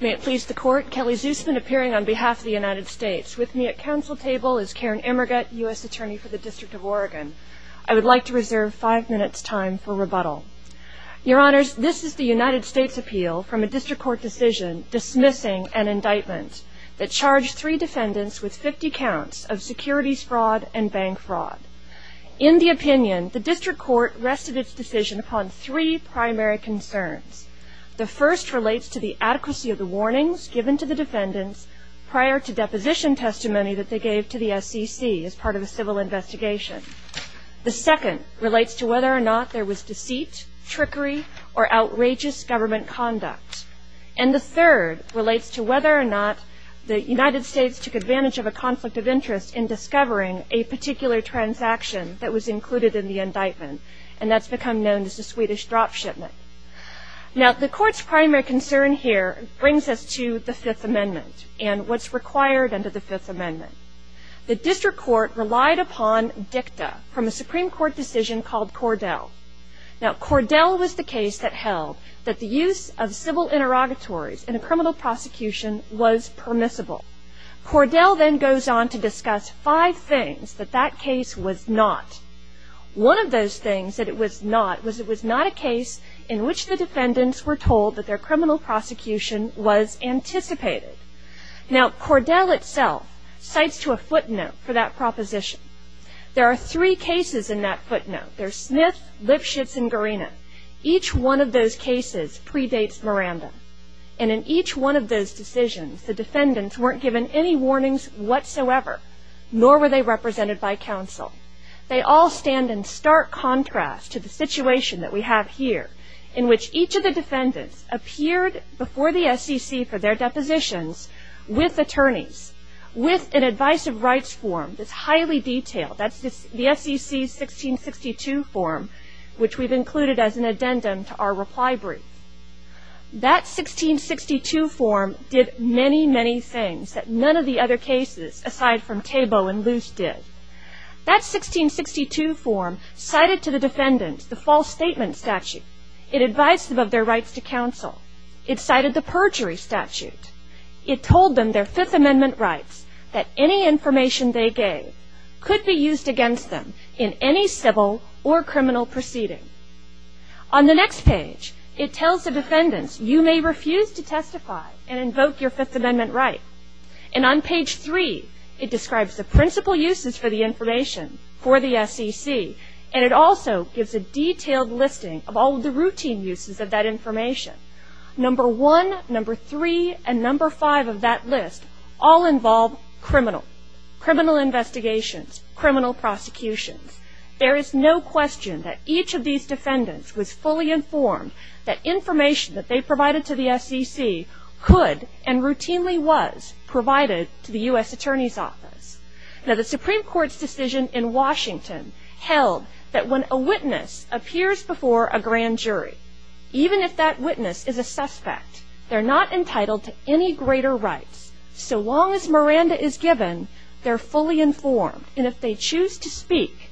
May it please the Court, Kelly Zusman appearing on behalf of the United States. With me at council table is Karen Emmergut, U.S. Attorney for the District of Oregon. I would like to reserve five minutes time for rebuttal. Your Honors, this is the United States appeal from a District Court decision dismissing an indictment that charged three defendants with 50 counts of securities fraud and bank fraud. In the opinion, the District Court rested its decision upon three primary concerns. The first relates to the adequacy of the warnings given to the defendants prior to deposition testimony that they gave to the SEC as part of a civil investigation. The second relates to whether or not there was deceit, trickery, or outrageous government conduct. And the third relates to whether or not the United States took advantage of a conflict of interest in discovering a particular transaction that was included in the indictment and that's become known as the Swedish drop shipment. Now the Court's primary concern here brings us to the Fifth Amendment and what's required under the Fifth Amendment. The District Court relied upon dicta from a Supreme Court decision called Cordell. Now Cordell was the case that held that the use of civil interrogatories in a criminal prosecution was permissible. Cordell then goes on to discuss five things that that case was not. One of those things that it was not was it was not a case in which the defendants were told that their criminal prosecution was anticipated. Now Cordell itself cites to a footnote for that proposition. There are three cases in that footnote. There's Smith, Lipschitz, and Garina. Each one of those cases predates Miranda. And in each one of those decisions, the defendants weren't given any warnings whatsoever, nor were they represented by counsel. They all stand in stark contrast to the situation that we have here in which each of the defendants appeared before the SEC for their depositions with attorneys, with an Advice of Rights form that's highly detailed. That's the SEC's 1662 form, which we've included as an addendum to our reply brief. That 1662 form did many, many things that none of the other cases aside from Tabo and Luce did. That 1662 form cited to the defendants the false statement statute. It advised them of their rights to counsel. It cited the perjury statute. It told them their Fifth Amendment rights, that any information they gave could be used against them in any civil or criminal proceeding. On the next page, it tells the defendants, you may refuse to describe the principal uses for the information for the SEC, and it also gives a detailed listing of all the routine uses of that information. Number one, number three, and number five of that list all involve criminal, criminal investigations, criminal prosecutions. There is no question that each of these defendants was fully informed that information that they possess. Now the Supreme Court's decision in Washington held that when a witness appears before a grand jury, even if that witness is a suspect, they're not entitled to any greater rights. So long as Miranda is given, they're fully informed. And if they choose to speak,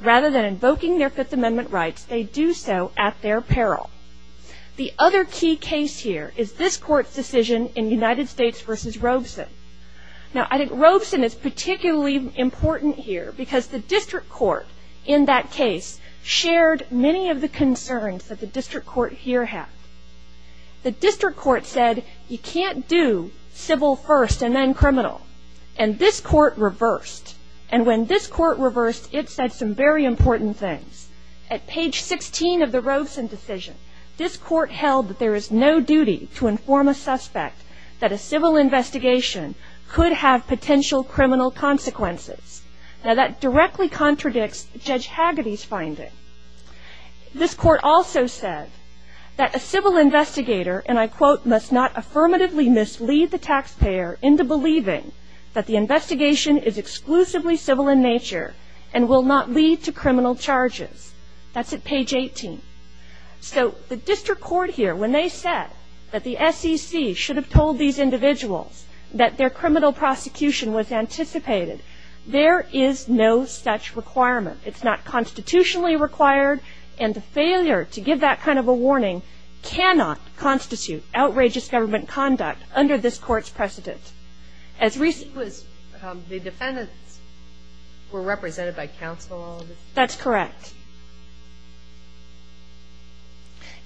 rather than invoking their Fifth Amendment rights, they do so at their peril. The other key case here is this Court's decision in United States v. Robeson. Now I think Robeson is particularly important here because the District Court in that case shared many of the concerns that the District Court here had. The District Court said, you can't do civil first and then criminal. And this Court reversed. And when this Court reversed, it said some very important things. At page 16 of the Robeson decision, this Court held that to inform a suspect that a civil investigation could have potential criminal consequences. Now that directly contradicts Judge Hagedy's finding. This Court also said that a civil investigator, and I quote, must not affirmatively mislead the taxpayer into believing that the investigation is exclusively civil in nature and will not lead to criminal charges. That's at page 18. So the District Court here, when they said that the SEC should have told these individuals that their criminal prosecution was anticipated, there is no such requirement. It's not constitutionally required. And the failure to give that kind of a warning cannot constitute outrageous government conduct under this Court's precedent. As recent as the defendants were represented by counsel on this case. That's correct.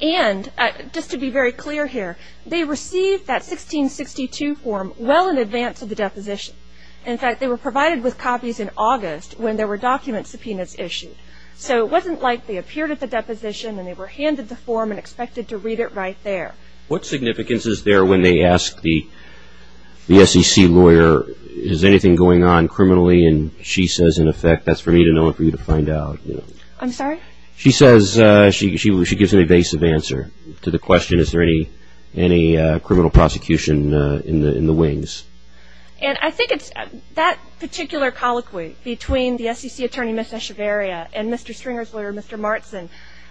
And just to be very clear here, they received that 1662 form well in advance of the deposition. In fact, they were provided with copies in August when there were document subpoenas issued. So it wasn't like they appeared at the deposition and they were handed the form and expected to read it right there. What significance is there when they ask the SEC lawyer, is anything going on criminally? And she says in effect, that's for me to know and for you to find out. I'm sorry? She says, she gives an evasive answer to the question, is there any criminal prosecution in the wings? And I think it's that particular colloquy between the SEC attorney, Ms. Echevarria, and Mr. Stringer's lawyer, Mr. Martson,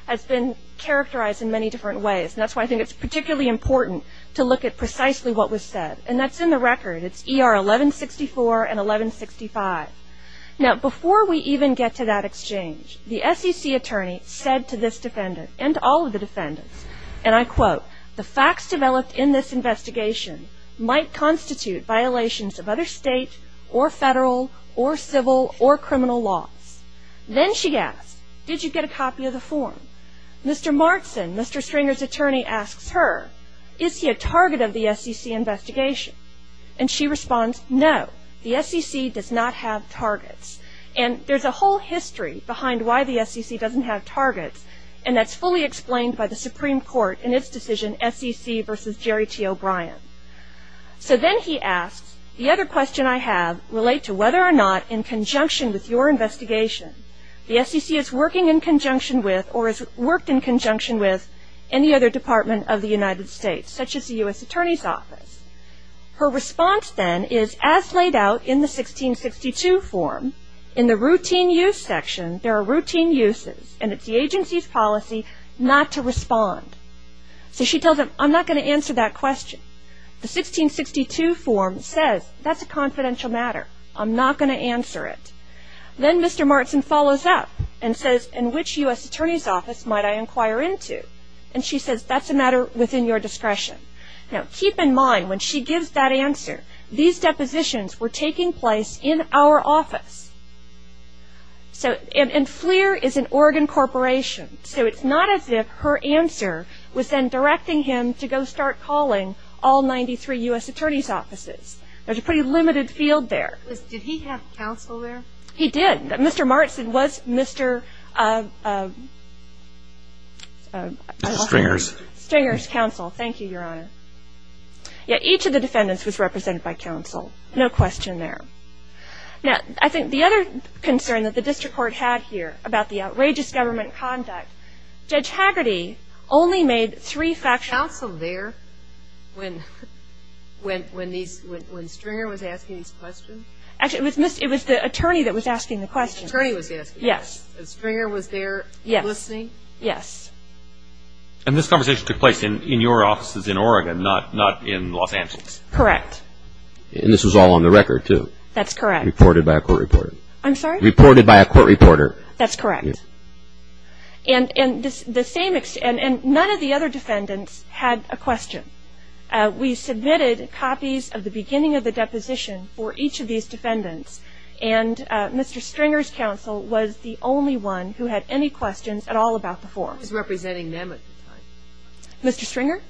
has been characterized in many different ways. And that's why I think it's particularly important to look at precisely what was said. And that's in the record. It's ER 1164 and 1165. Now before we even get to that exchange, the SEC attorney said to this defendant and all of the defendants, and I quote, the facts developed in this investigation might constitute violations of other state or federal or civil or criminal laws. Then she asks, did you get a copy of the form? Mr. Martson, Mr. Stringer's attorney, asks her, is he a target of the SEC? The SEC does not have targets. And there's a whole history behind why the SEC doesn't have targets. And that's fully explained by the Supreme Court in its decision, SEC versus Jerry T. O'Brien. So then he asks, the other question I have relate to whether or not in conjunction with your investigation, the SEC is working in conjunction with or has worked in conjunction with any other department of the United States, such as the U.S. Attorney's Office? Her response then is as laid out in the 1662 form, in the routine use section, there are routine uses. And it's the agency's policy not to respond. So she tells him, I'm not going to answer that question. The 1662 form says, that's a confidential matter. I'm not going to answer it. Then Mr. Martson follows up and says, in which U.S. Attorney's Office might I inquire into? And she says, that's a matter within your discretion. Now keep in mind, when she gives that answer, these depositions were taking place in our office. And FLIR is an Oregon corporation. So it's not as if her answer was then directing him to go start calling all 93 U.S. Attorney's Offices. There's a pretty limited field there. Did he have counsel there? He did. Mr. Martson was Mr. Stringer's. Stringer's counsel. Thank you, Your Honor. Each of the defendants was represented by counsel. No question there. Now, I think the other concern that the district court had here about the outrageous government conduct, Judge Haggerty only made three factual Counsel there when Stringer was asking these questions? Actually, it was the attorney that was asking the questions. The attorney was asking. Yes. And Stringer was there listening? Yes. Yes. And this conversation took place in your offices in Oregon, not in Los Angeles? Correct. And this was all on the record, too? That's correct. Reported by a court reporter? I'm sorry? Reported by a court reporter? That's correct. And none of the other defendants had a question. We submitted copies of the beginning of the deposition for each of these defendants. And Mr. Stringer's counsel was the only one who had any questions at all about the forms. Who was representing them at the time? Mr. Stringer?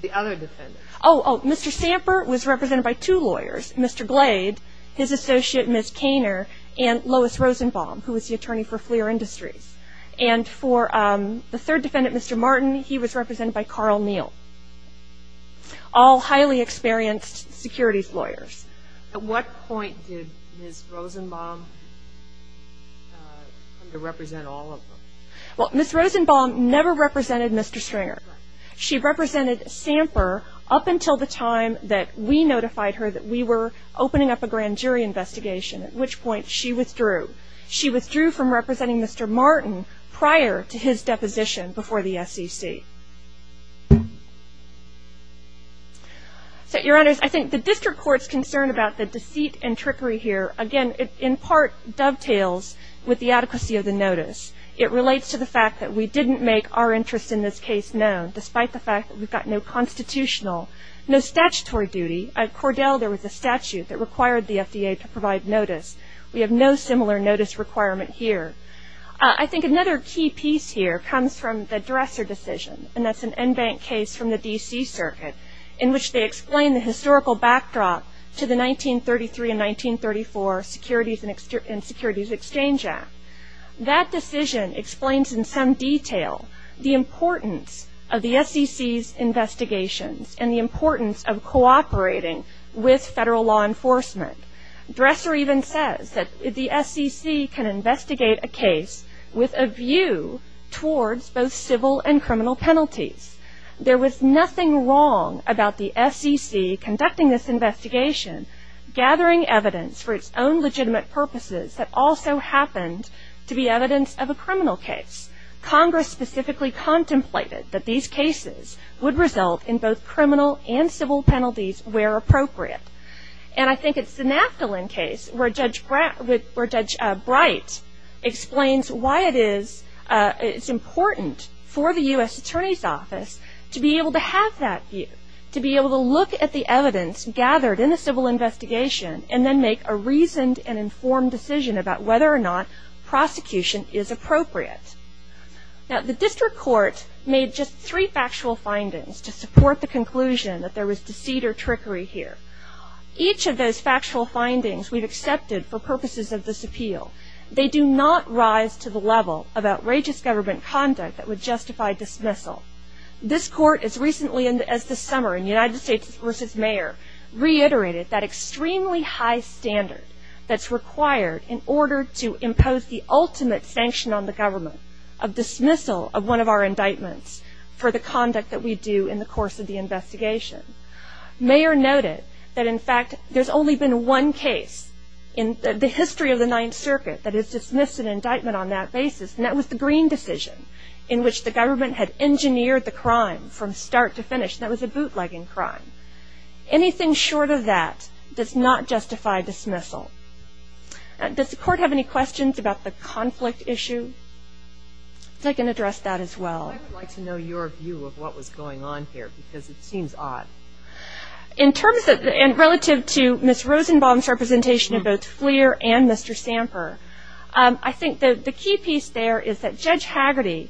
The other defendants. Oh, oh. Mr. Samper was represented by two lawyers, Mr. Glade, his associate, Ms. Caner, and Lois Rosenbaum, who was the attorney for FLIR Industries. And for the third defendant, Mr. Martin, he was represented by Carl Neal, all highly experienced securities lawyers. At what point did Ms. Rosenbaum come to represent all of them? Well, Ms. Rosenbaum never represented Mr. Stringer. She represented Samper up until the time that we notified her that we were opening up a grand jury investigation, at which point she withdrew. She withdrew from representing Mr. Martin prior to his deposition before the SEC. So, Your Honors, I think the district court's concern about the deceit and trickery here, again, in part dovetails with the adequacy of the notice. It relates to the fact that we didn't make our interest in this case known, despite the fact that we've got no constitutional, no statutory duty. At Cordell, there was a statute that required the FDA to provide notice. We have no similar notice requirement here. I think another key piece here comes from the Dresser decision, and that's an en banc case from the D.C. Circuit, in which they explain the historical backdrop to the 1933 and 1934 Securities and Securities Exchange Act. That decision explains in some detail the importance of the SEC's investigations and the importance of cooperating with federal law enforcement. Dresser even says that the SEC can investigate a case with a view towards both civil and criminal penalties. There was nothing wrong about the SEC conducting this investigation, gathering evidence for its own legitimate purposes that also happened to be evidence of a criminal case. Congress specifically contemplated that these cases would result in both criminal and civil penalties where appropriate. And I think it's the Naftalin case where Judge Bright explains why it is important for the U.S. Attorney's Office to be able to have that view, to be able to look at the evidence gathered in the civil investigation and then make a reasoned and informed decision about whether or not prosecution is appropriate. Now, the District Court made just three factual findings to support the conclusion that there was deceit or trickery here. Each of those factual findings we've accepted for purposes of this appeal. They do not rise to the level of outrageous government conduct that would justify dismissal. This Court as recently as this summer in United States v. Mayor reiterated that extremely high standard that's required in order to impose the ultimate sanction on the government of dismissal of one of our indictments for the conduct that we do in the course of the investigation. Mayor noted that in fact there's only been one case in the history of the Ninth Circuit that has dismissed an indictment on that basis and that was the Greene decision in which the government had engineered the crime from start to finish and that was a bootlegging crime. Anything short of that does not justify dismissal. Does the Court have any questions about the conflict issue? If I can address that as well. I would like to know your view of what was going on here because it seems odd. In terms of and relative to Ms. Rosenbaum's representation of both Fleer and Mr. Samper, I think the key piece there is that Judge Haggerty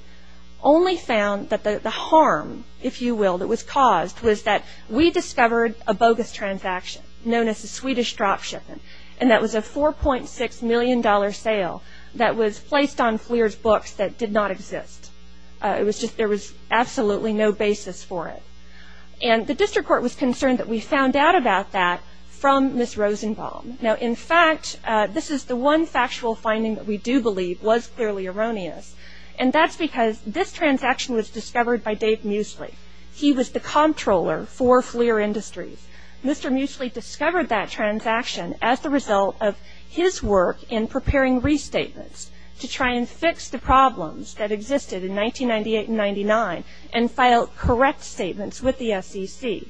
only found that the harm, if you will, that was caused was that we discovered a bogus transaction known as the Swedish drop shipment and that was a $4.6 million sale that was placed on Fleer's books that did not exist. There was absolutely no basis for it and the District Court was concerned that we found out about that from Ms. Rosenbaum. Now in fact this is the one factual finding that we do believe was clearly erroneous and that's because this transaction was discovered by Dave Muesli. He was the comptroller for Fleer Industries. Mr. Muesli discovered that transaction as the result of his work in preparing restatements to try and fix the problems that existed in 1998 and 99 and file correct statements with the SEC.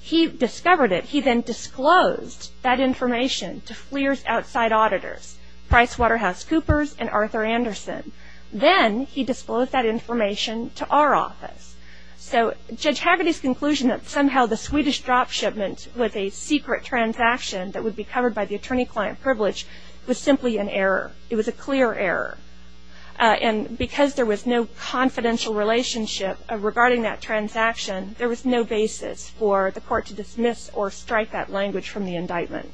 He discovered it. He then disclosed that information to Fleer's outside auditors, PricewaterhouseCoopers and Arthur Anderson. Then he disclosed that information to our office. So Judge Haggerty's conclusion that somehow the Swedish drop shipment was a secret transaction that would be covered by the attorney-client privilege was simply an error. It was a clear error. And because there was no confidential relationship regarding that transaction, there was no basis for the court to dismiss or strike that language from the indictment.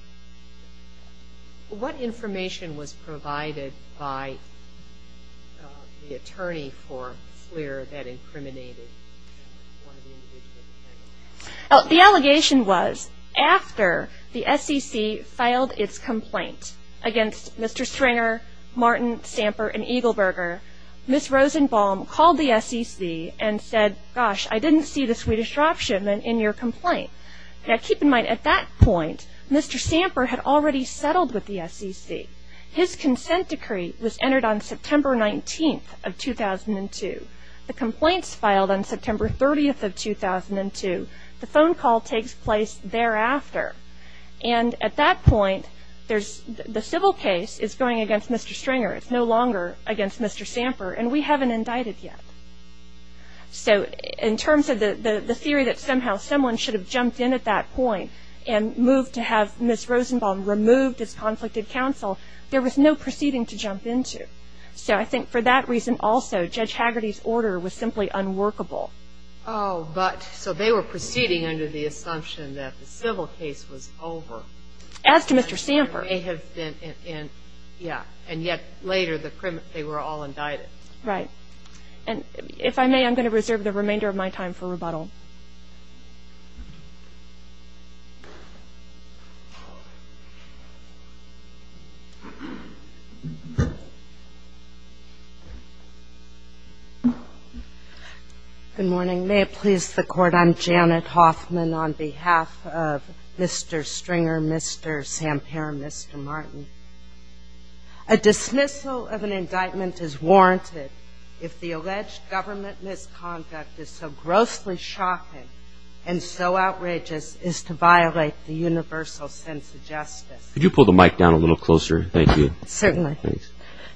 What information was provided by the attorney for Fleer that incriminated one of the individuals? The allegation was after the SEC filed its complaint against Mr. Stringer, Martin, Samper and Eagleburger, Ms. Rosenbaum called the SEC and said, gosh, I didn't see the Swedish drop shipment in your complaint. Now keep in mind at that point, Mr. Samper had already settled with the SEC. His consent decree was entered on September 19th of 2002. The complaints filed on September 30th of 2002. The phone call takes place thereafter. And at that point, the civil case is going against Mr. Stringer. It's no longer against Mr. Samper and we haven't indicted yet. So in terms of the theory that somehow someone should have jumped in at that point and moved to have Ms. Rosenbaum removed as conflicted counsel, there was no proceeding to jump into. So I think for that reason also, Judge Haggerty's order was simply unworkable. Oh, but so they were proceeding under the assumption that the civil case was over. As to Mr. Samper. It may have been, yeah. And yet later, they were all indicted. Right. And if I may, I'm going to reserve the remainder of my time for rebuttal. Good morning. May it please the Court, I'm Janet Hoffman on behalf of Mr. Stringer, Mr. Samper, Mr. Martin. A dismissal of an indictment is warranted if the alleged government misconduct is so grossly shocking and so outrageous as to violate the universal sense of justice. Could you pull the mic down a little closer? Thank you. Certainly.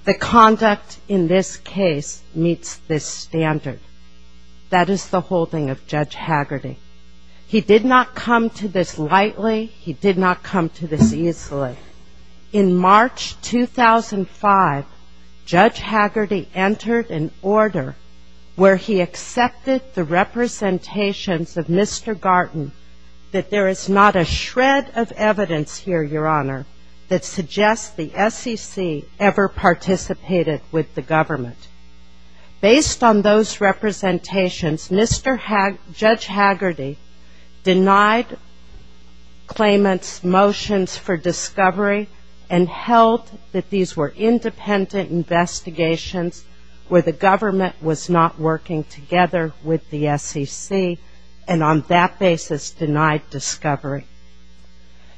The conduct in this case meets this standard. That is the holding of Judge Haggerty. He did not come to this lightly. He did not come to this easily. In March 2005, Judge Haggerty entered an order where he accepted the representations of Mr. Garton that there was no SEC ever participated with the government. Based on those representations, Judge Haggerty denied claimants' motions for discovery and held that these were independent investigations where the government was not working together with the SEC and on that basis denied discovery.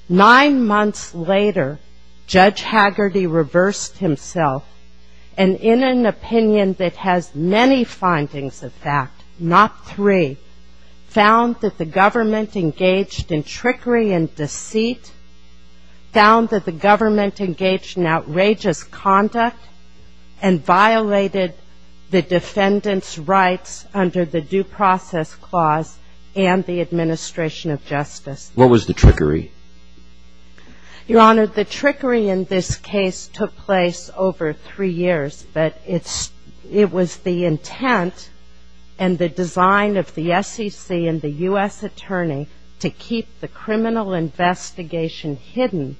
Nine months later, Judge Haggerty reversed himself and in an opinion that has many findings of fact, not three, found that the government engaged in trickery and deceit, found that the government engaged in outrageous conduct, and violated the defendant's rights under the Due Process Clause and the administration of justice. What was the trickery? Your Honor, the trickery in this case took place over three years, but it was the intent and the design of the SEC and the U.S. Attorney to keep the criminal investigation hidden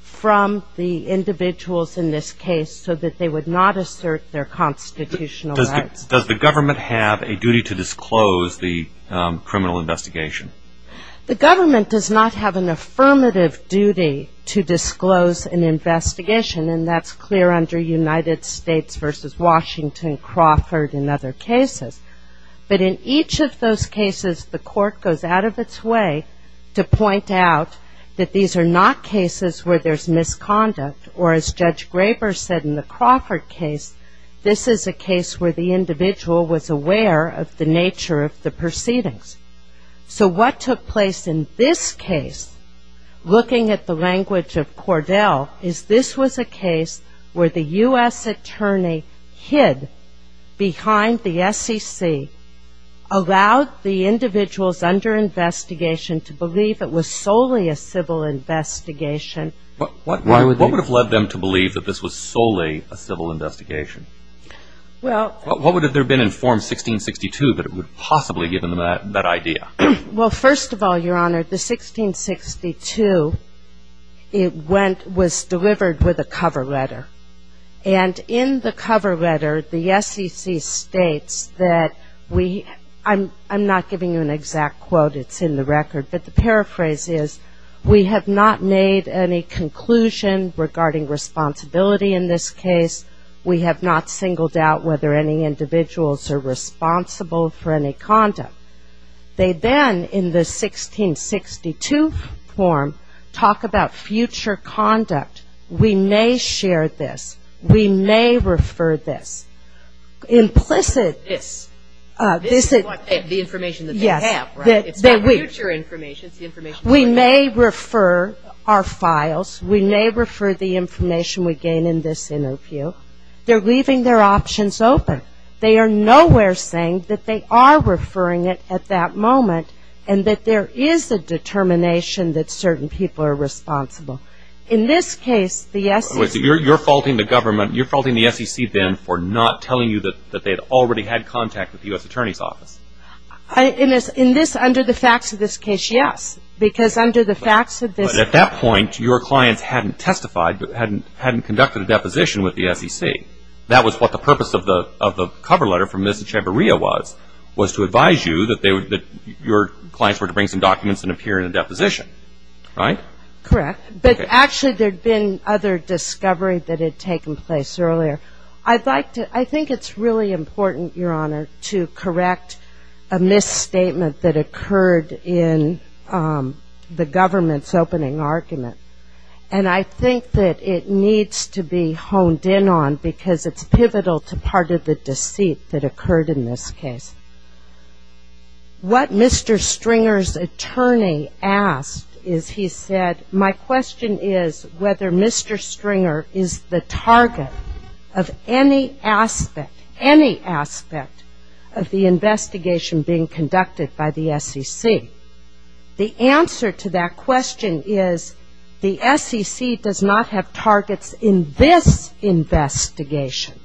from the individuals in this case so that they would not assert their constitutional rights. Does the government have a duty to disclose the criminal investigation? The government does not have an affirmative duty to disclose an investigation and that's clear under United States v. Washington, Crawford and other cases. But in each of those cases the court goes out of its way to point out that these are not cases where there's misconduct or as Judge Graber said in the Crawford case, this is a case where the individual was aware of the nature of the proceedings. So what took place in this case, looking at the language of Cordell, is this was a case where the U.S. Attorney hid behind the SEC, allowed the individuals under investigation to believe it was solely a civil investigation. What would have led them to believe that this was solely a civil investigation? What would have there been in form 1662 that would have possibly given them that idea? Well, first of all, Your Honor, the 1662, it went, was delivered with a cover letter. And in the cover letter the SEC states that we, I'm not giving you an exact quote, it's in the record, but the paraphrase is, we have not made any conclusion regarding responsibility in this case. We have not singled out whether any individuals are responsible for any conduct. They then, in the 1662 form, talk about future conduct. We may share this. We may refer this. Implicit, this is what, the information that they have, right? It's not future information. We may refer our files. We may refer the information we gain in this interview. They're leaving their options open. They are nowhere saying that they are referring it at that moment and that there is a determination that certain people are responsible. In this case, the SEC... You're faulting the government, you're faulting the SEC then for not telling you that they had already had contact with the U.S. Attorney's Office. In this, under the facts of this case, yes. Because under the facts of this... But at that point, your clients hadn't testified, hadn't conducted a deposition with the SEC. That was what the purpose of the cover letter from Ms. Echevarria was, was to advise you that your clients were to bring some documents and appear in a deposition, right? Correct. But actually there had been other discovery that had taken place earlier. I'd think it's really important, Your Honor, to correct a misstatement that occurred in the government's opening argument. And I think that it needs to be honed in on because it's pivotal to part of the deceit that occurred in this case. What Mr. Stringer's attorney asked is, he said, my question is whether Mr. Stringer is the target of any aspect, any aspect of the investigation being conducted by the SEC. The answer to that question is the SEC does not have targets in this investigation.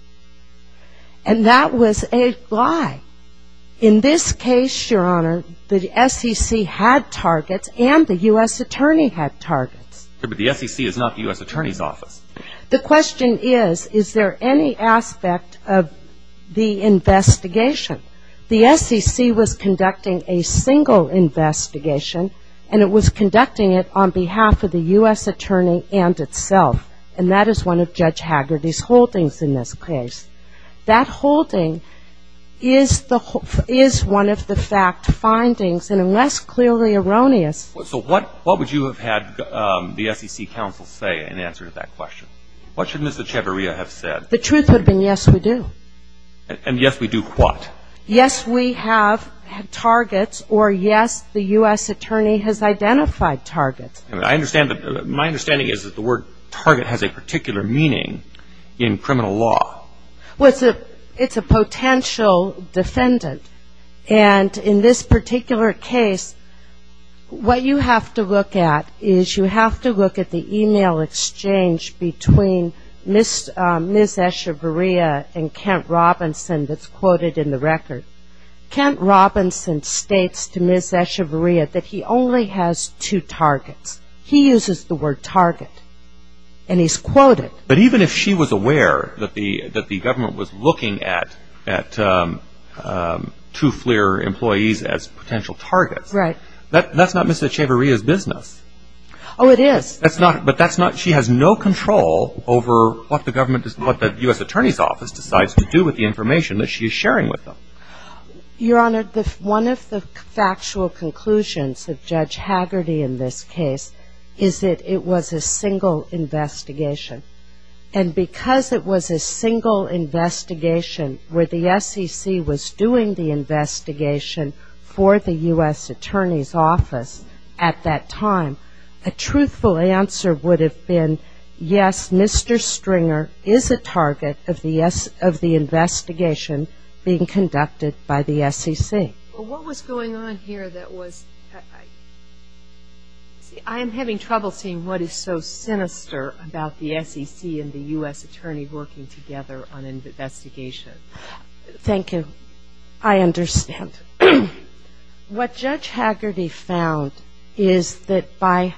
And that was a lie. In this case, Your Honor, the SEC had targets and the U.S. Attorney had targets. But the SEC is not the U.S. Attorney's office. The question is, is there any aspect of the investigation? The SEC was conducting a single investigation and it was conducting it on behalf of the U.S. Attorney and itself. And that is one of Judge Hagerty's holdings in this case. That holding is one of the fact findings and unless clearly erroneous So what would you have had the SEC counsel say in answer to that question? What should Ms. Echevarria have said? The truth would have been, yes, we do. And yes, we do what? Yes, we have targets or yes, the U.S. Attorney has identified targets. My understanding is that the word target has a particular meaning in criminal law. Well, it's a potential defendant. And in this particular case, what you have to look at is you have to look at the email exchange between Ms. Echevarria and Kent Robinson that's quoted in the record. Kent Robinson states to Ms. Echevarria that he only has two targets. He uses the word target. And he's quoted. But even if she was aware that the government was looking at two FLIR employees as potential targets, that's not Ms. Echevarria's business. Oh, it is. But she has no control over what the U.S. Attorney's Office decides to do with the information that she's sharing with them. Your Honor, one of the factual conclusions of Judge Hagerty in this case is that it was a single investigation. And because it was a single investigation where the SEC was doing the investigation for the U.S. Attorney's Office at that time, a truthful answer would have been, yes, Mr. Stringer is a target of the investigation being conducted by the SEC. What was going on here that was, I'm having trouble seeing what is so sinister about the SEC and the U.S. Attorney working together on an investigation. Thank you. I understand. What Judge Hagerty found is that by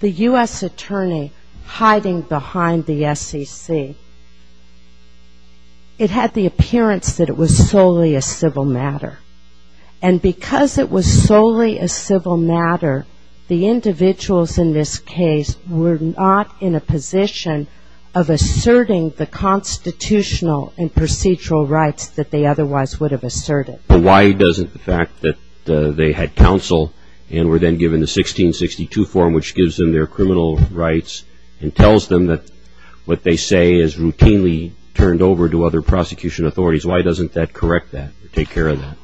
the U.S. Attorney hiding behind the SEC, it had the appearance that it was solely a civil matter. And because it was solely a civil matter, the individuals in this case were not in a position of asserting the constitutional and procedural rights that they otherwise would have asserted. Why doesn't the fact that they had counsel and were then given the 1662 form which gives them their criminal rights and tells them that what they say is routinely turned over to other prosecution authorities, why doesn't that correct that or take care of that?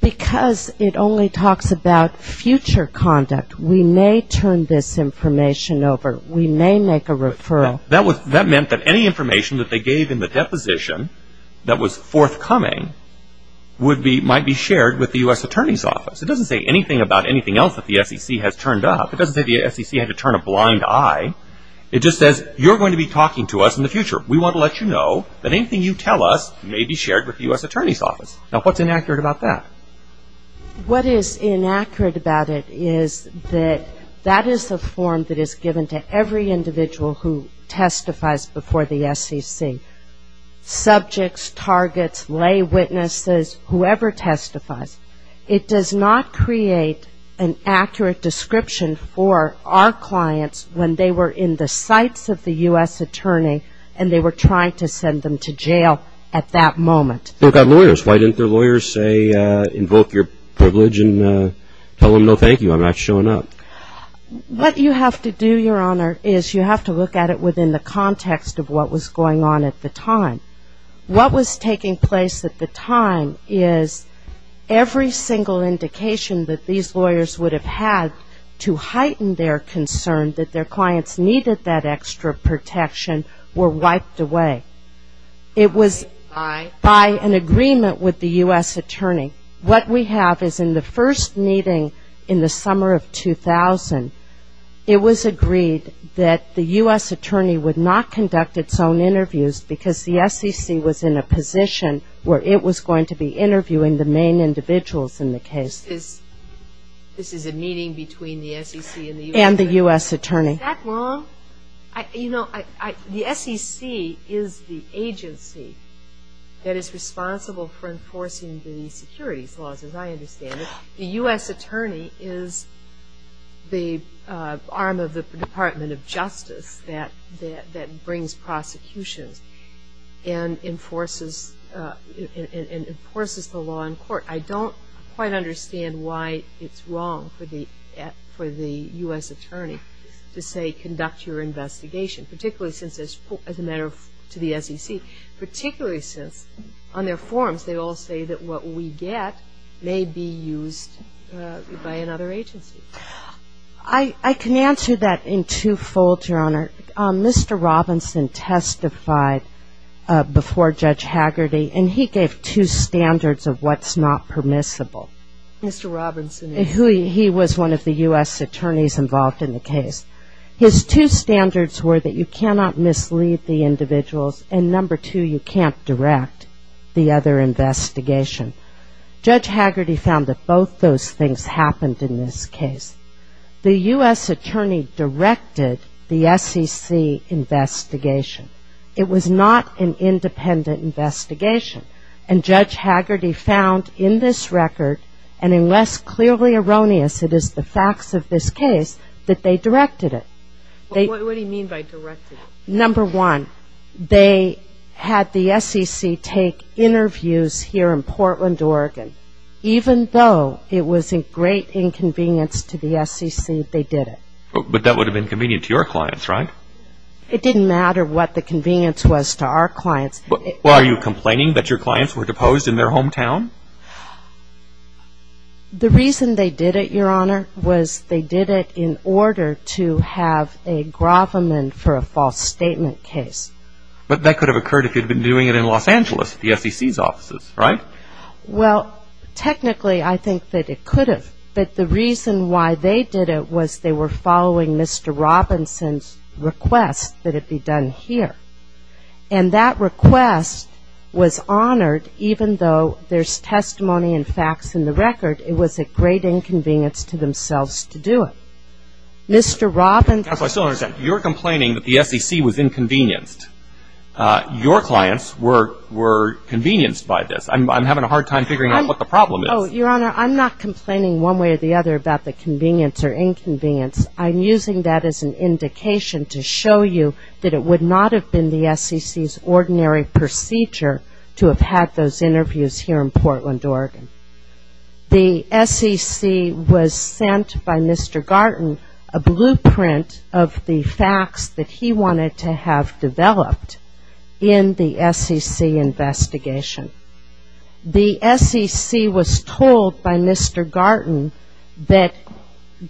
Because it only talks about future conduct. We may turn this information over. We may make a referral. That meant that any information that they gave in the deposition that was forthcoming would be, might be shared with the U.S. Attorney's Office. It doesn't say anything about anything else that the SEC has turned up. It doesn't say the SEC had to turn a blind eye. It just says you're going to be talking to us in the future. We want to let you know that anything you tell us may be shared with the U.S. Attorney's Office. Now, what's inaccurate about that? What is inaccurate about it is that that is the form that is given to every individual who testifies before the SEC. Subjects, targets, lay witnesses, whoever testifies. It does not create an accurate description for our clients when they were in the sights of the U.S. Attorney and they were trying to send them to jail at that moment. They've got lawyers. Why didn't their lawyers say, invoke your privilege and tell them no thank you, I'm not showing up? What you have to do, Your Honor, is you have to look at it within the context of what was going on at the time. What was taking place at the time is every single indication that these lawyers would have had to heighten their concern that their clients needed that extra protection were wiped away. It was by an agreement with the U.S. Attorney. What we have is in the first meeting in the summer of 2000, it was agreed that the U.S. Attorney conduct its own interviews because the SEC was in a position where it was going to be interviewing the main individuals in the case. This is a meeting between the SEC and the U.S. Attorney? And the U.S. Attorney. Is that wrong? You know, the SEC is the agency that is responsible for enforcing the securities laws as I understand it. The U.S. Attorney is the arm of the Department of Justice that brings prosecutions and enforces the law in court. I don't quite understand why it's wrong for the U.S. Attorney to say conduct your investigation, particularly since as a matter to the SEC, particularly since on their forms they all say that what we get may be used by another agency. I can answer that in two-fold, Your Honor. Mr. Robinson testified before Judge Haggerty and he gave two standards of what's not permissible. Mr. Robinson? He was one of the U.S. Attorneys involved in the case. His two standards were that you cannot mislead the individuals and number two, you can't direct the other investigation. Judge Haggerty found that both those things happened in this case. The U.S. Attorney directed the SEC investigation. It was not an independent investigation and Judge Haggerty found in this record and unless clearly erroneous it is the facts of this case that they directed it. What do you mean by directed? Number one, they had the SEC take interviews here in Portland, Oregon. Even though it was a great inconvenience to the SEC, they did it. But that would have been convenient to your clients, right? It didn't matter what the convenience was to our clients. Are you complaining that your clients were deposed in their hometown? The reason they did it, Your Honor, was they did it in order to have a gravamen for a false statement case. But that could have occurred if you had been doing it in Los Angeles, the SEC's offices, right? Well, technically I think that it could have. But the reason why they did it was they were following Mr. Robinson's request that it be done here. And that request was honored even though there's testimony and facts in the record, it was a great inconvenience to themselves to do it. Mr. Robinson Counsel, I still don't understand. You're complaining that the SEC was inconvenienced. Your clients were convenienced by this. I'm having a hard time figuring out what the problem is. Your Honor, I'm not complaining one way or the other about the convenience or inconvenience. I'm using that as an indication to show you that it would not have been the SEC's ordinary procedure to have had those interviews here in Portland, Oregon. The SEC was sent by Mr. Garten a blueprint of the facts that he wanted to have developed in the SEC investigation. The SEC was told by Mr. Garten that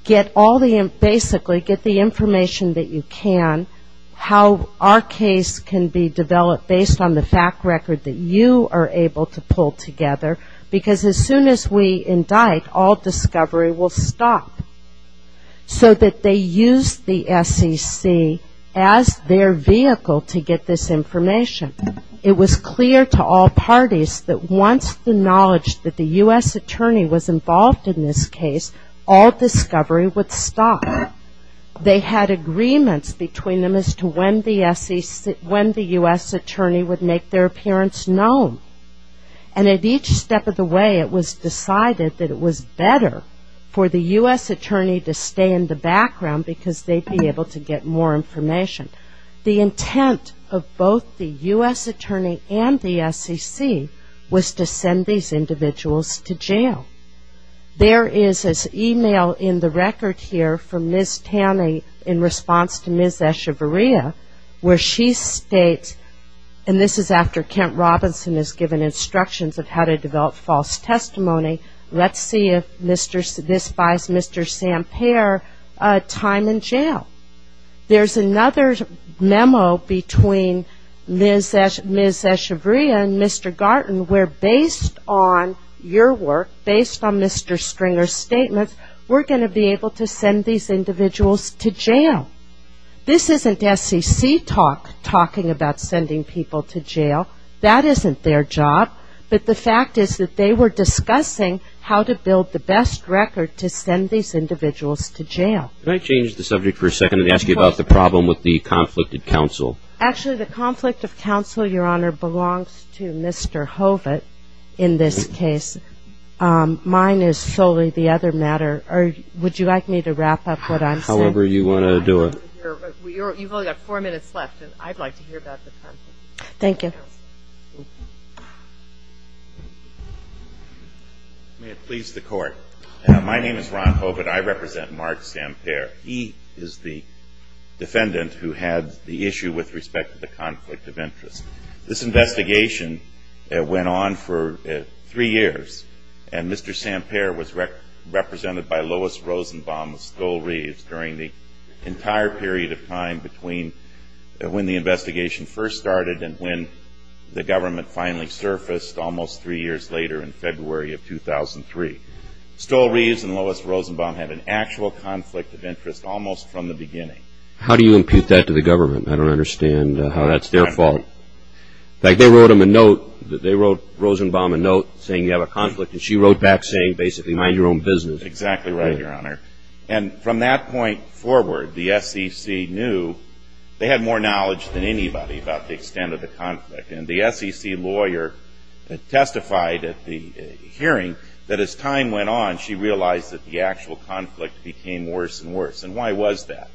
get all the, basically get the information that you can, how our case can be developed based on the fact record that you are able to pull together because as soon as we indict, all discovery will stop. So that they used the SEC as their vehicle to get this information. It was clear to all parties that once the knowledge that the U.S. attorney was involved in this case, all discovery would stop. They had agreements between them as to when the U.S. attorney would make their appearance known. And at each step of the way it was decided that it was better for the U.S. attorney to stay in the background because they would be able to get more information. The intent of both the U.S. attorney and the SEC was to send these individuals to jail. There is an email in the record here from Ms. Taney in response to Ms. Echevarria where she states, and this is after Kent Robinson has given instructions of how to develop false testimony, let's see if this buys Mr. Sampere time in jail. There is another memo between Ms. Echevarria and Mr. Garten where based on your work, based on Mr. Stringer's statements, we're going to be able to send these individuals to jail. This isn't SEC talking about sending people to jail. That isn't their job. But the fact is that they were discussing how to build the best record to send these individuals to jail. Can I change the subject for a second and ask you about the problem with the conflict of counsel? Actually the conflict of counsel, Your Honor, belongs to Mr. Hovatt in this case. Mine is solely the other matter. Or would you like me to wrap up what I'm saying? However you want to do it. You've only got four minutes left and I'd like to hear about the conflict of counsel. Thank you. May it please the Court. My name is Ron Hovatt. I represent Mark Sampere. He is the defendant who had the issue with respect to the conflict of interest. This investigation went on for three years and Mr. Sampere was represented by Lois Rosenbaum and Stole Reeves during the entire period of time between when the investigation first started and when the government finally surfaced almost three years later in February of 2003. Stole Reeves and Lois Rosenbaum had an actual conflict of interest almost from the beginning. How do you impute that to the government? I don't understand how that's their fault. In fact, they wrote him a note. They wrote Rosenbaum a note saying you have a conflict and she wrote back saying basically mind your own business. Exactly right, Your Honor. And from that point forward, the SEC knew they had more knowledge than anybody about the extent of the conflict. And the SEC lawyer testified at the hearing that as time went on, she realized that the actual conflict became worse and worse. And why was that?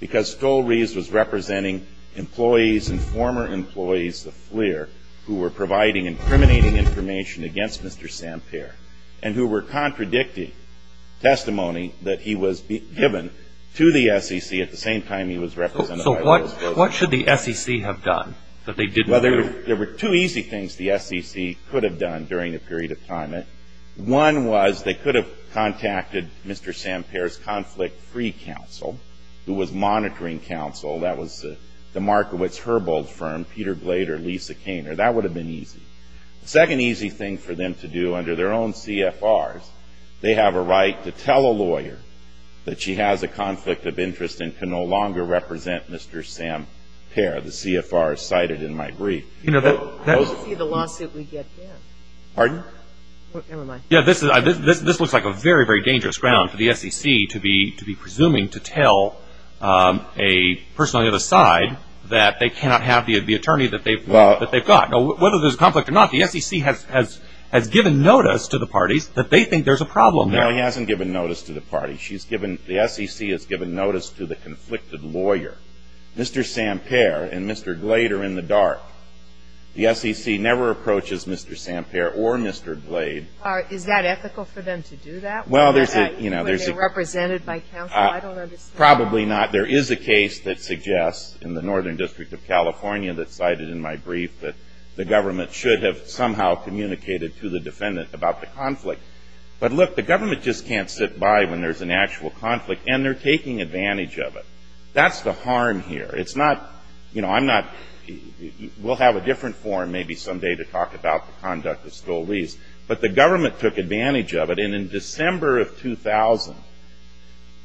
Because Stole Reeves was representing employees and former employees of FLIR who were providing incriminating information against Mr. Sampere and who were contradicting testimony that he was given to the SEC at the same time he was represented by Lois Rosenbaum. What should the SEC have done that they didn't do? There were two easy things the SEC could have done during the period of time. One was they could have contacted Mr. Sampere's conflict-free counsel who was monitoring counsel. That was the Markowitz-Herbold firm, Peter Glader, Lisa Kainer. That would have been easy. The second easy thing for them to do under their own CFRs, they have a right to tell a lawyer that she has a conflict of interest and can no longer represent Mr. Sampere. The CFR is cited in my brief. You know, that would be the lawsuit we get here. Pardon? Never mind. This looks like a very, very dangerous ground for the SEC to be presuming to tell a person on the other side that they cannot have the attorney that they've got. Whether there's a conflict or not, the SEC has given notice to the parties that they think there's a problem there. No, he hasn't given notice to the parties. The SEC has given notice to the conflicted lawyer. Mr. Sampere and Mr. Glader in the dark. The SEC never approaches Mr. Sampere or Mr. Glader. Is that ethical for them to do that? Well, there's a When they're represented by counsel? I don't understand. Probably not. There is a case that suggests in the Northern District of California that cited in my brief that the government should have somehow communicated to the defendant about the conflict. But look, the government just can't sit by when there's an actual conflict, and they're taking advantage of it. That's the harm here. It's not, you know, I'm not, we'll have a different forum maybe someday to talk about the conduct of Stolle But the government took advantage of it, and in December of 2000,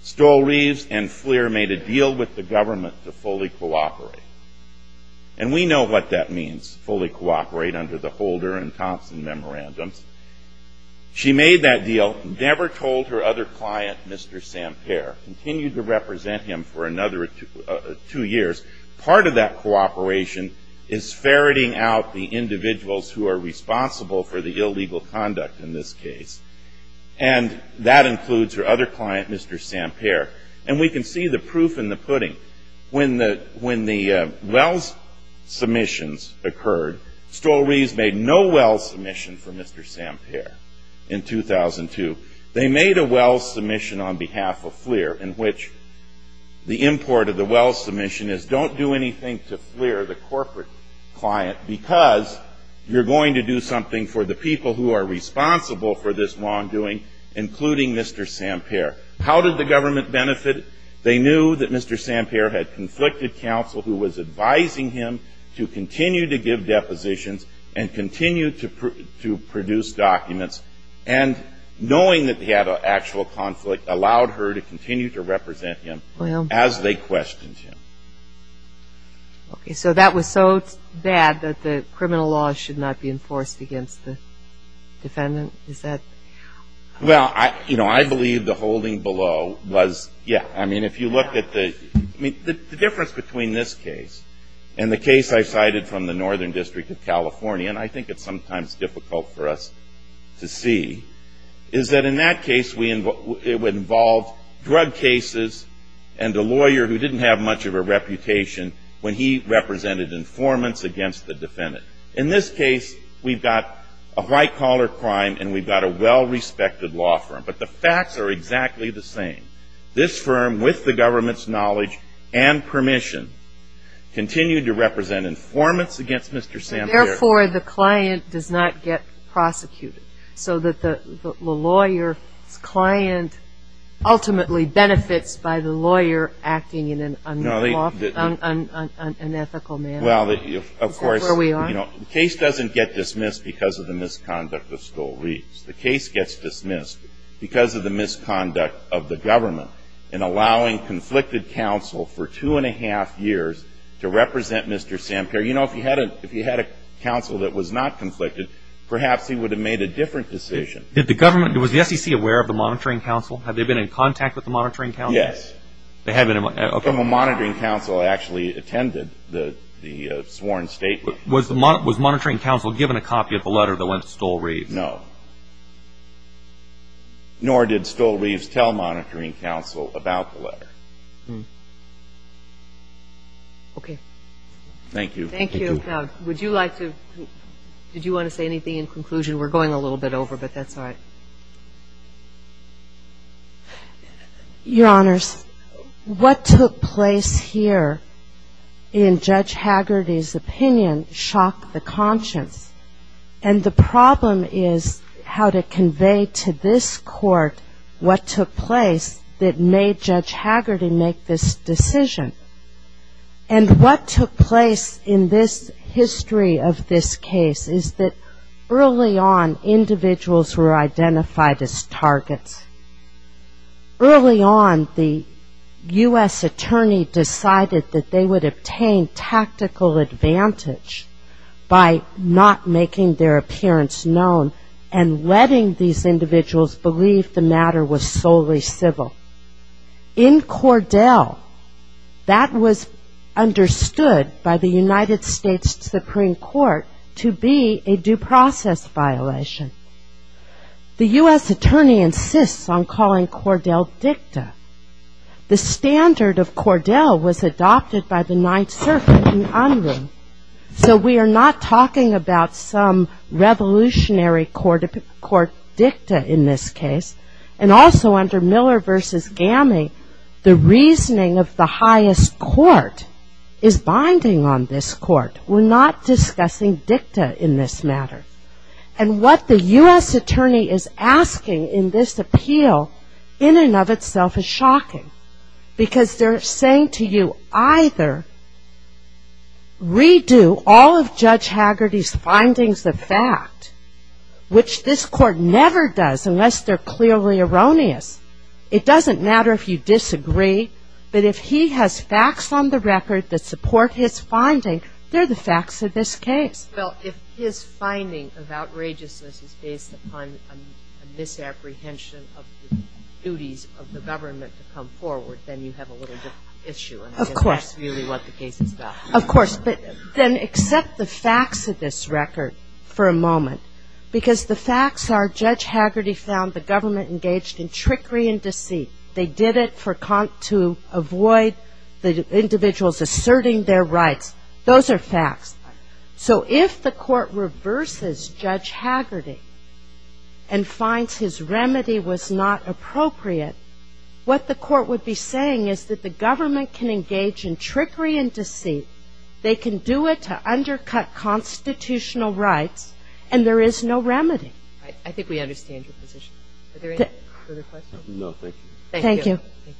Stolle Reeves and Fleer made a deal with the government to fully cooperate. And we know what that means, fully cooperate under the Holder and Thompson memorandums. She made that deal, never told her other client, Mr. Sampere, continued to represent him for another two years. Part of that cooperation is ferreting out the individuals who are responsible for the illegal conduct in this case. And that includes her other client, Mr. Sampere. And we can see the proof in the pudding. When the Wells submissions occurred, Stolle Reeves made no Wells submission for Mr. Sampere in 2002. They made a Wells submission on behalf of Fleer in which the import of the Wells submission is don't do anything to Fleer, the corporate client, because you're going to do something for the people who are responsible for this wrongdoing, including Mr. Sampere. How did the government benefit? They knew that Mr. Sampere had conflicted counsel who was advising him to continue to give depositions and continue to produce documents. And knowing that he had an actual conflict allowed her to continue to represent him as they questioned him. Okay. So that was so bad that the criminal law should not be enforced against the defendant? Is that? Well, you know, I believe the holding below was, yeah. I mean, if you look at the difference between this case and the case I cited from the Northern District of California, and I think it's sometimes difficult for us to see, is that in that case it involved drug cases and a lawyer who didn't have much of a reputation when he represented informants against the defendant. In this case, we've got a white collar crime and we've got a well-respected law firm. But the facts are exactly the same. This firm, with the government's knowledge and permission, continued to represent informants against Mr. Sampere. Therefore, the client does not get prosecuted, so that the lawyer's client ultimately benefits by the lawyer acting in an unethical manner. Well, of course, the case doesn't get dismissed because of the misconduct of Stolich. The case gets dismissed because of the misconduct of the government in allowing conflicted counsel for two and a half years to represent Mr. Sampere. You know, if he had a counsel that was not conflicted, perhaps he would have made a different decision. Did the government, was the SEC aware of the monitoring counsel? Have they been in contact with the monitoring counsel? Yes. They have been in contact. Well, the monitoring counsel actually attended the sworn statement. Was the monitoring counsel given a copy of the letter that went to Stole-Reeves? No. Nor did Stole-Reeves tell monitoring counsel about the letter. Thank you. Thank you. Would you like to, did you want to say anything in conclusion? We're going a little bit over, but that's all right. Your Honors, what took place here in Judge Haggerty's opinion shocked the conscience. And the problem is how to convey to this Court what took place that made Judge Haggerty make this decision. And what took place in this history of this case is that early on, individuals were identified as targets. Early on, the U.S. Attorney decided that they would obtain tactical advantage by not making their appearance known and letting these individuals believe the matter was solely civil. In Cordell, that was understood by the United States Supreme Court to be a due process violation. The U.S. Attorney insists on calling Cordell dicta. The standard of Cordell was adopted by the Ninth Circuit in Unruh. So we are not talking about some revolutionary court dicta in this case. And also under Miller v. Gammy, the reasoning of the highest court is binding on this Court. We're not discussing dicta in this matter. And what the U.S. Attorney is asking in this appeal in and of itself is shocking. Because they're saying to you, either redo all of Judge Haggerty's findings of fact, which this Court never does unless they're clearly erroneous. It doesn't matter if you disagree. But if he has facts on the record that support his finding, they're the facts of this case. Well, if his finding of outrageousness is based upon a misapprehension of the duties of the government to come forward, then you have a little bit of an issue. Of course. And I guess that's really what the case is about. Of course. But then accept the facts of this record for a moment. Because the facts are Judge Haggerty found the government engaged in trickery and deceit. They did it to avoid the individuals asserting their rights. Those are facts. So if the Court reverses Judge Haggerty and finds his remedy was not appropriate, what the Court would be saying is that the government can engage in trickery and deceit, they can do it to undercut constitutional rights, and there is no remedy. I think we understand your position. Are there any further questions? No. Thank you. Thank you. Thank you.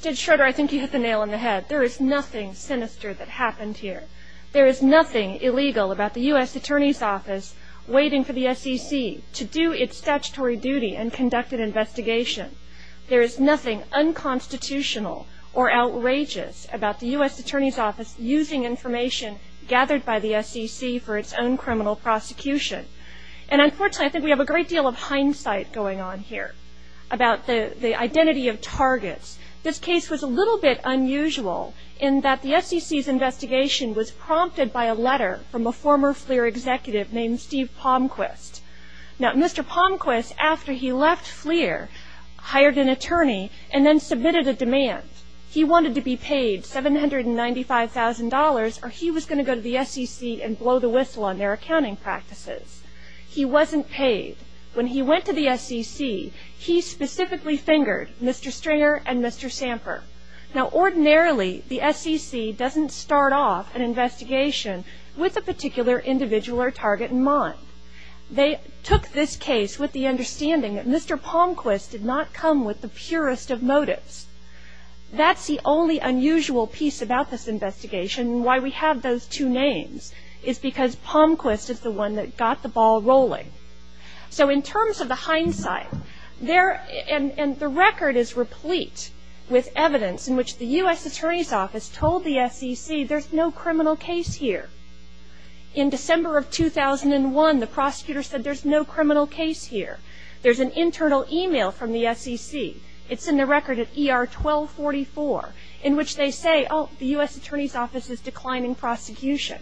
Judge Schroeder, I think you hit the nail on the head. There is nothing sinister that happened here. There is nothing illegal about the U.S. Attorney's Office waiting for the SEC to do its statutory duty and conduct an investigation. There is nothing unconstitutional or outrageous about the U.S. Attorney's Office using information gathered by the SEC for its own criminal prosecution. Unfortunately, I think we have a great deal of hindsight going on here about the identity of targets. This case was a little bit unusual in that the SEC's investigation was prompted by a letter from a former FLIR executive named Steve Palmquist. Mr. Palmquist, after he left FLIR, hired an attorney and then submitted a demand. He wanted to be paid $795,000 or he was going to go to the SEC and blow the whistle on their accounting practices. He wasn't paid. When he went to the SEC, he specifically fingered Mr. Stringer and Mr. Samper. Now, ordinarily, the SEC doesn't start off an investigation with a particular individual or target in mind. They took this case with the understanding that Mr. Palmquist did not come with the purest of motives. That's the only unusual piece about this investigation why we have those two names is because Palmquist is the one that got the ball rolling. So in terms of the hindsight, the record is replete with evidence in which the U.S. Attorney's Office told the SEC there's no criminal case here. In December of 2001, the prosecutor said there's no criminal case here. There's an internal email from the SEC. It's in the declining prosecution.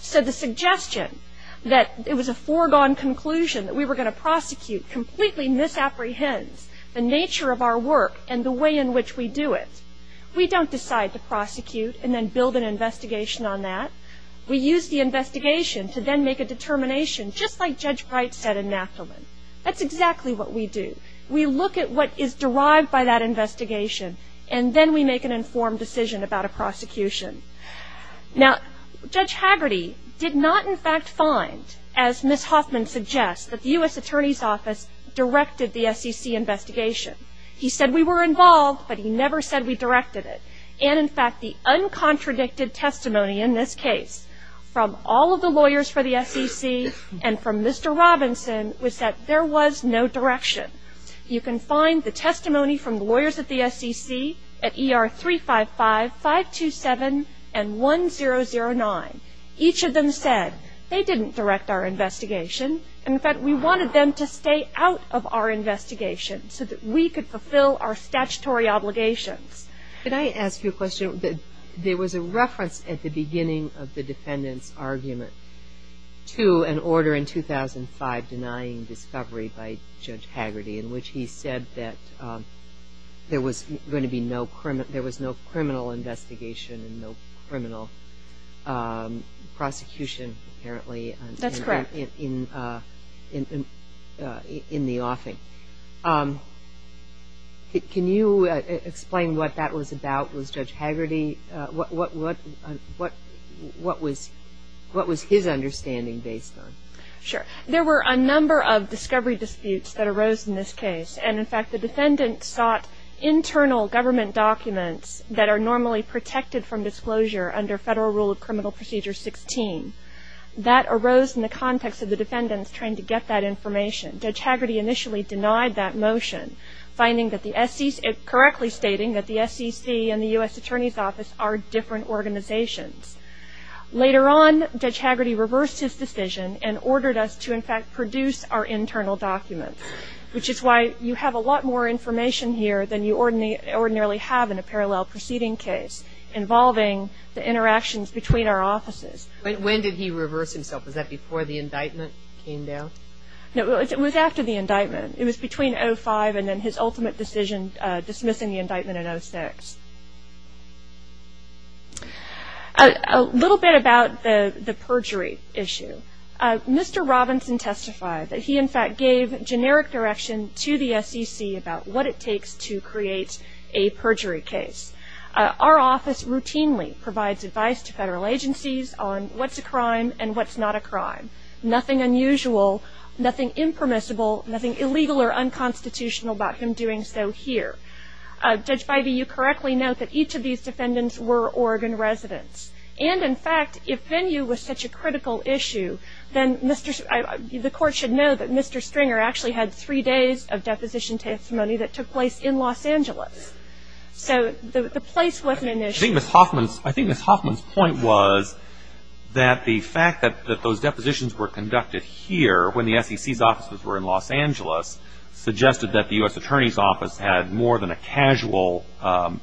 So the suggestion that it was a foregone conclusion that we were going to prosecute completely misapprehends the nature of our work and the way in which we do it. We don't decide to prosecute and then build an investigation on that. We use the investigation to then make a determination, just like Judge Wright said in Knappleman. That's exactly what we do. We look at what is derived by that investigation and then we make an informed decision about a prosecution. Now Judge Haggerty did not in fact find, as Ms. Hoffman suggests, that the U.S. Attorney's Office directed the SEC investigation. He said we were involved, but he never said we directed it. And in fact, the uncontradicted testimony in this case from all of the lawyers for the SEC and from Mr. Robinson was that there was no direction. You can find the testimony from the lawyers at the SEC at ER 355, 527, and 1009. Each of them said they didn't direct our investigation. In fact, we wanted them to stay out of our investigation so that we could fulfill our statutory obligations. Can I ask you a question? There was a reference at the beginning of the defendant's argument to an order in 2005 denying discovery by Judge Haggerty in which he said that there was going to be no criminal investigation and no criminal prosecution apparently in the offing. Can you explain what that was about? Was Judge Haggerty, what was his intention? Sure. There were a number of discovery disputes that arose in this case. And in fact, the defendant sought internal government documents that are normally protected from disclosure under Federal Rule of Criminal Procedure 16. That arose in the context of the defendants trying to get that information. Judge Haggerty initially denied that motion, correctly stating that the SEC and the U.S. Attorney's Office are different organizations. Later on, Judge Haggerty reversed his decision and ordered us to, in fact, produce our internal documents, which is why you have a lot more information here than you ordinarily have in a parallel proceeding case involving the interactions between our offices. When did he reverse himself? Was that before the indictment came down? No, it was after the indictment. It was between 2005 and then his ultimate decision dismissing the indictment in 2006. A little bit about the perjury issue. Mr. Robinson testified that he, in fact, gave generic direction to the SEC about what it takes to create a perjury case. Our office routinely provides advice to federal agencies on what's a crime and what's not a crime. Nothing unusual, nothing impermissible, nothing illegal or unconstitutional about him doing so here. Judge Bivey, you correctly note that each of these defendants were Oregon residents. And, in fact, if venue was such a critical issue, then the court should know that Mr. Stringer actually had three days of deposition testimony that took place in Los Angeles. So the place wasn't an issue. I think Ms. Hoffman's point was that the fact that those depositions were conducted here when the SEC's offices were in Los Angeles suggested that the U.S. Attorney's Office had more than a casual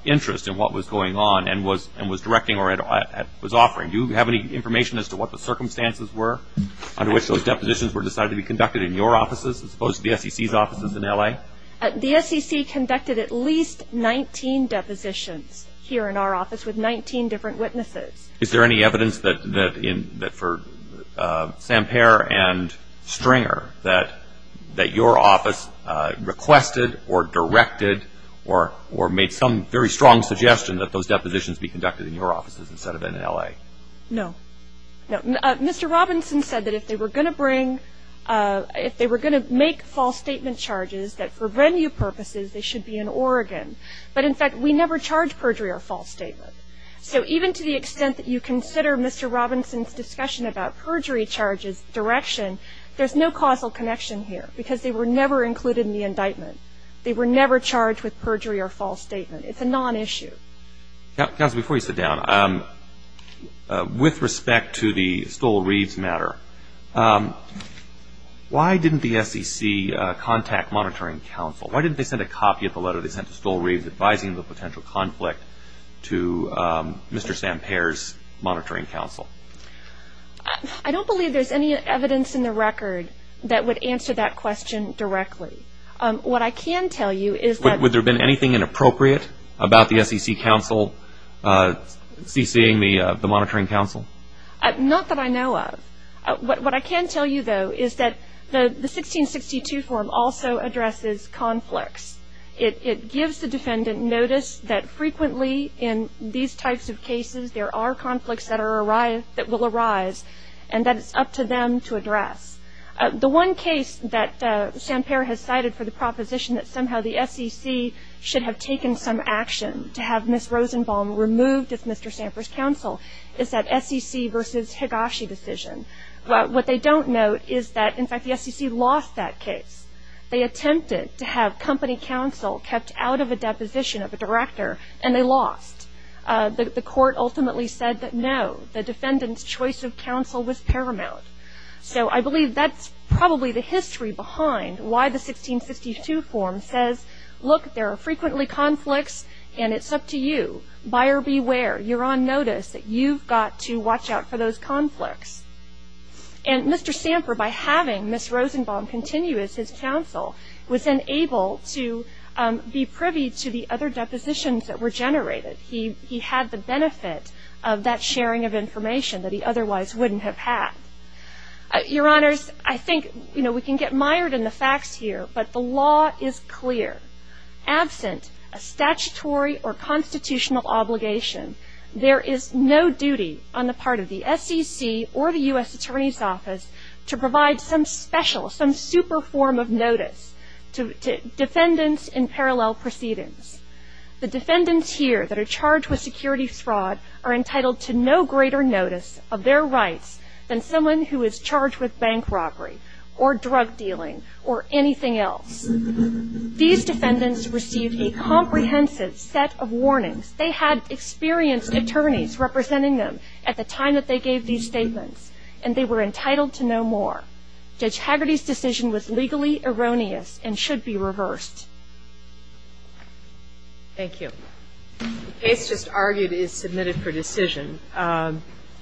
interest in what was going on and was directing or was offering. Do you have any information as to what the circumstances were under which those depositions were decided to be conducted in your offices as opposed to the SEC's offices in L.A.? The SEC conducted at least 19 depositions here in our office with 19 different witnesses. Is there any evidence that for Sampere and Stringer that your office requested or directed or made some very strong suggestion that those depositions be conducted in your offices instead of in L.A.? No. No. Mr. Robinson said that if they were going to bring, if they were going to make false statement charges, that for venue purposes they should be in Oregon. But, in fact, we never charge perjury or false statement. So even to the extent that you consider Mr. Robinson's discussion about perjury charges direction, there's no causal connection here because they were never included in the indictment. They were never charged with perjury or false statement. It's a non-issue. Counsel, before you sit down, with respect to the Stole-Reeves matter, why didn't the SEC contact monitoring counsel? Why didn't they send a copy of the letter they sent to Mr. Sampere's monitoring counsel? I don't believe there's any evidence in the record that would answer that question directly. What I can tell you is that Would there have been anything inappropriate about the SEC counsel CCing the monitoring counsel? Not that I know of. What I can tell you, though, is that the 1662 form also addresses conflicts. It gives the defendant notice that frequently in these types of cases there are conflicts that will arise and that it's up to them to address. The one case that Sampere has cited for the proposition that somehow the SEC should have taken some action to have Ms. Rosenbaum removed as Mr. Sampere's counsel is that SEC versus Higashi decision. What they don't note is that, in fact, the SEC lost that case. They attempted to have company counsel kept out of a deposition of a director and they lost. The court ultimately said that, no, the defendant's choice of counsel was paramount. So I believe that's probably the history behind why the 1662 form says, look, there are frequently conflicts and it's up to you. Buyer beware. You're on notice. You've got to watch out for those conflicts. And Mr. Sampere, by having Ms. Rosenbaum continue as his counsel, was then able to be privy to the other depositions that were generated. He had the benefit of that sharing of information that he otherwise wouldn't have had. Your Honors, I think, you know, we can get mired in the facts here, but the law is clear. Absent a statutory or constitutional obligation, there is no duty on the part of the SEC or the U.S. Attorney's Office to provide some special, some super form of notice to defendants in parallel proceedings. The defendants here that are charged with security fraud are entitled to no greater notice of their rights than someone who is charged with bank robbery or drug dealing or anything else. These defendants received a comprehensive set of warnings. They had experienced attorneys representing them at the time that they gave these statements, and they were entitled to no more. Judge Hagerty's decision was legally erroneous and should be reversed. Thank you. The case just argued is submitted for decision.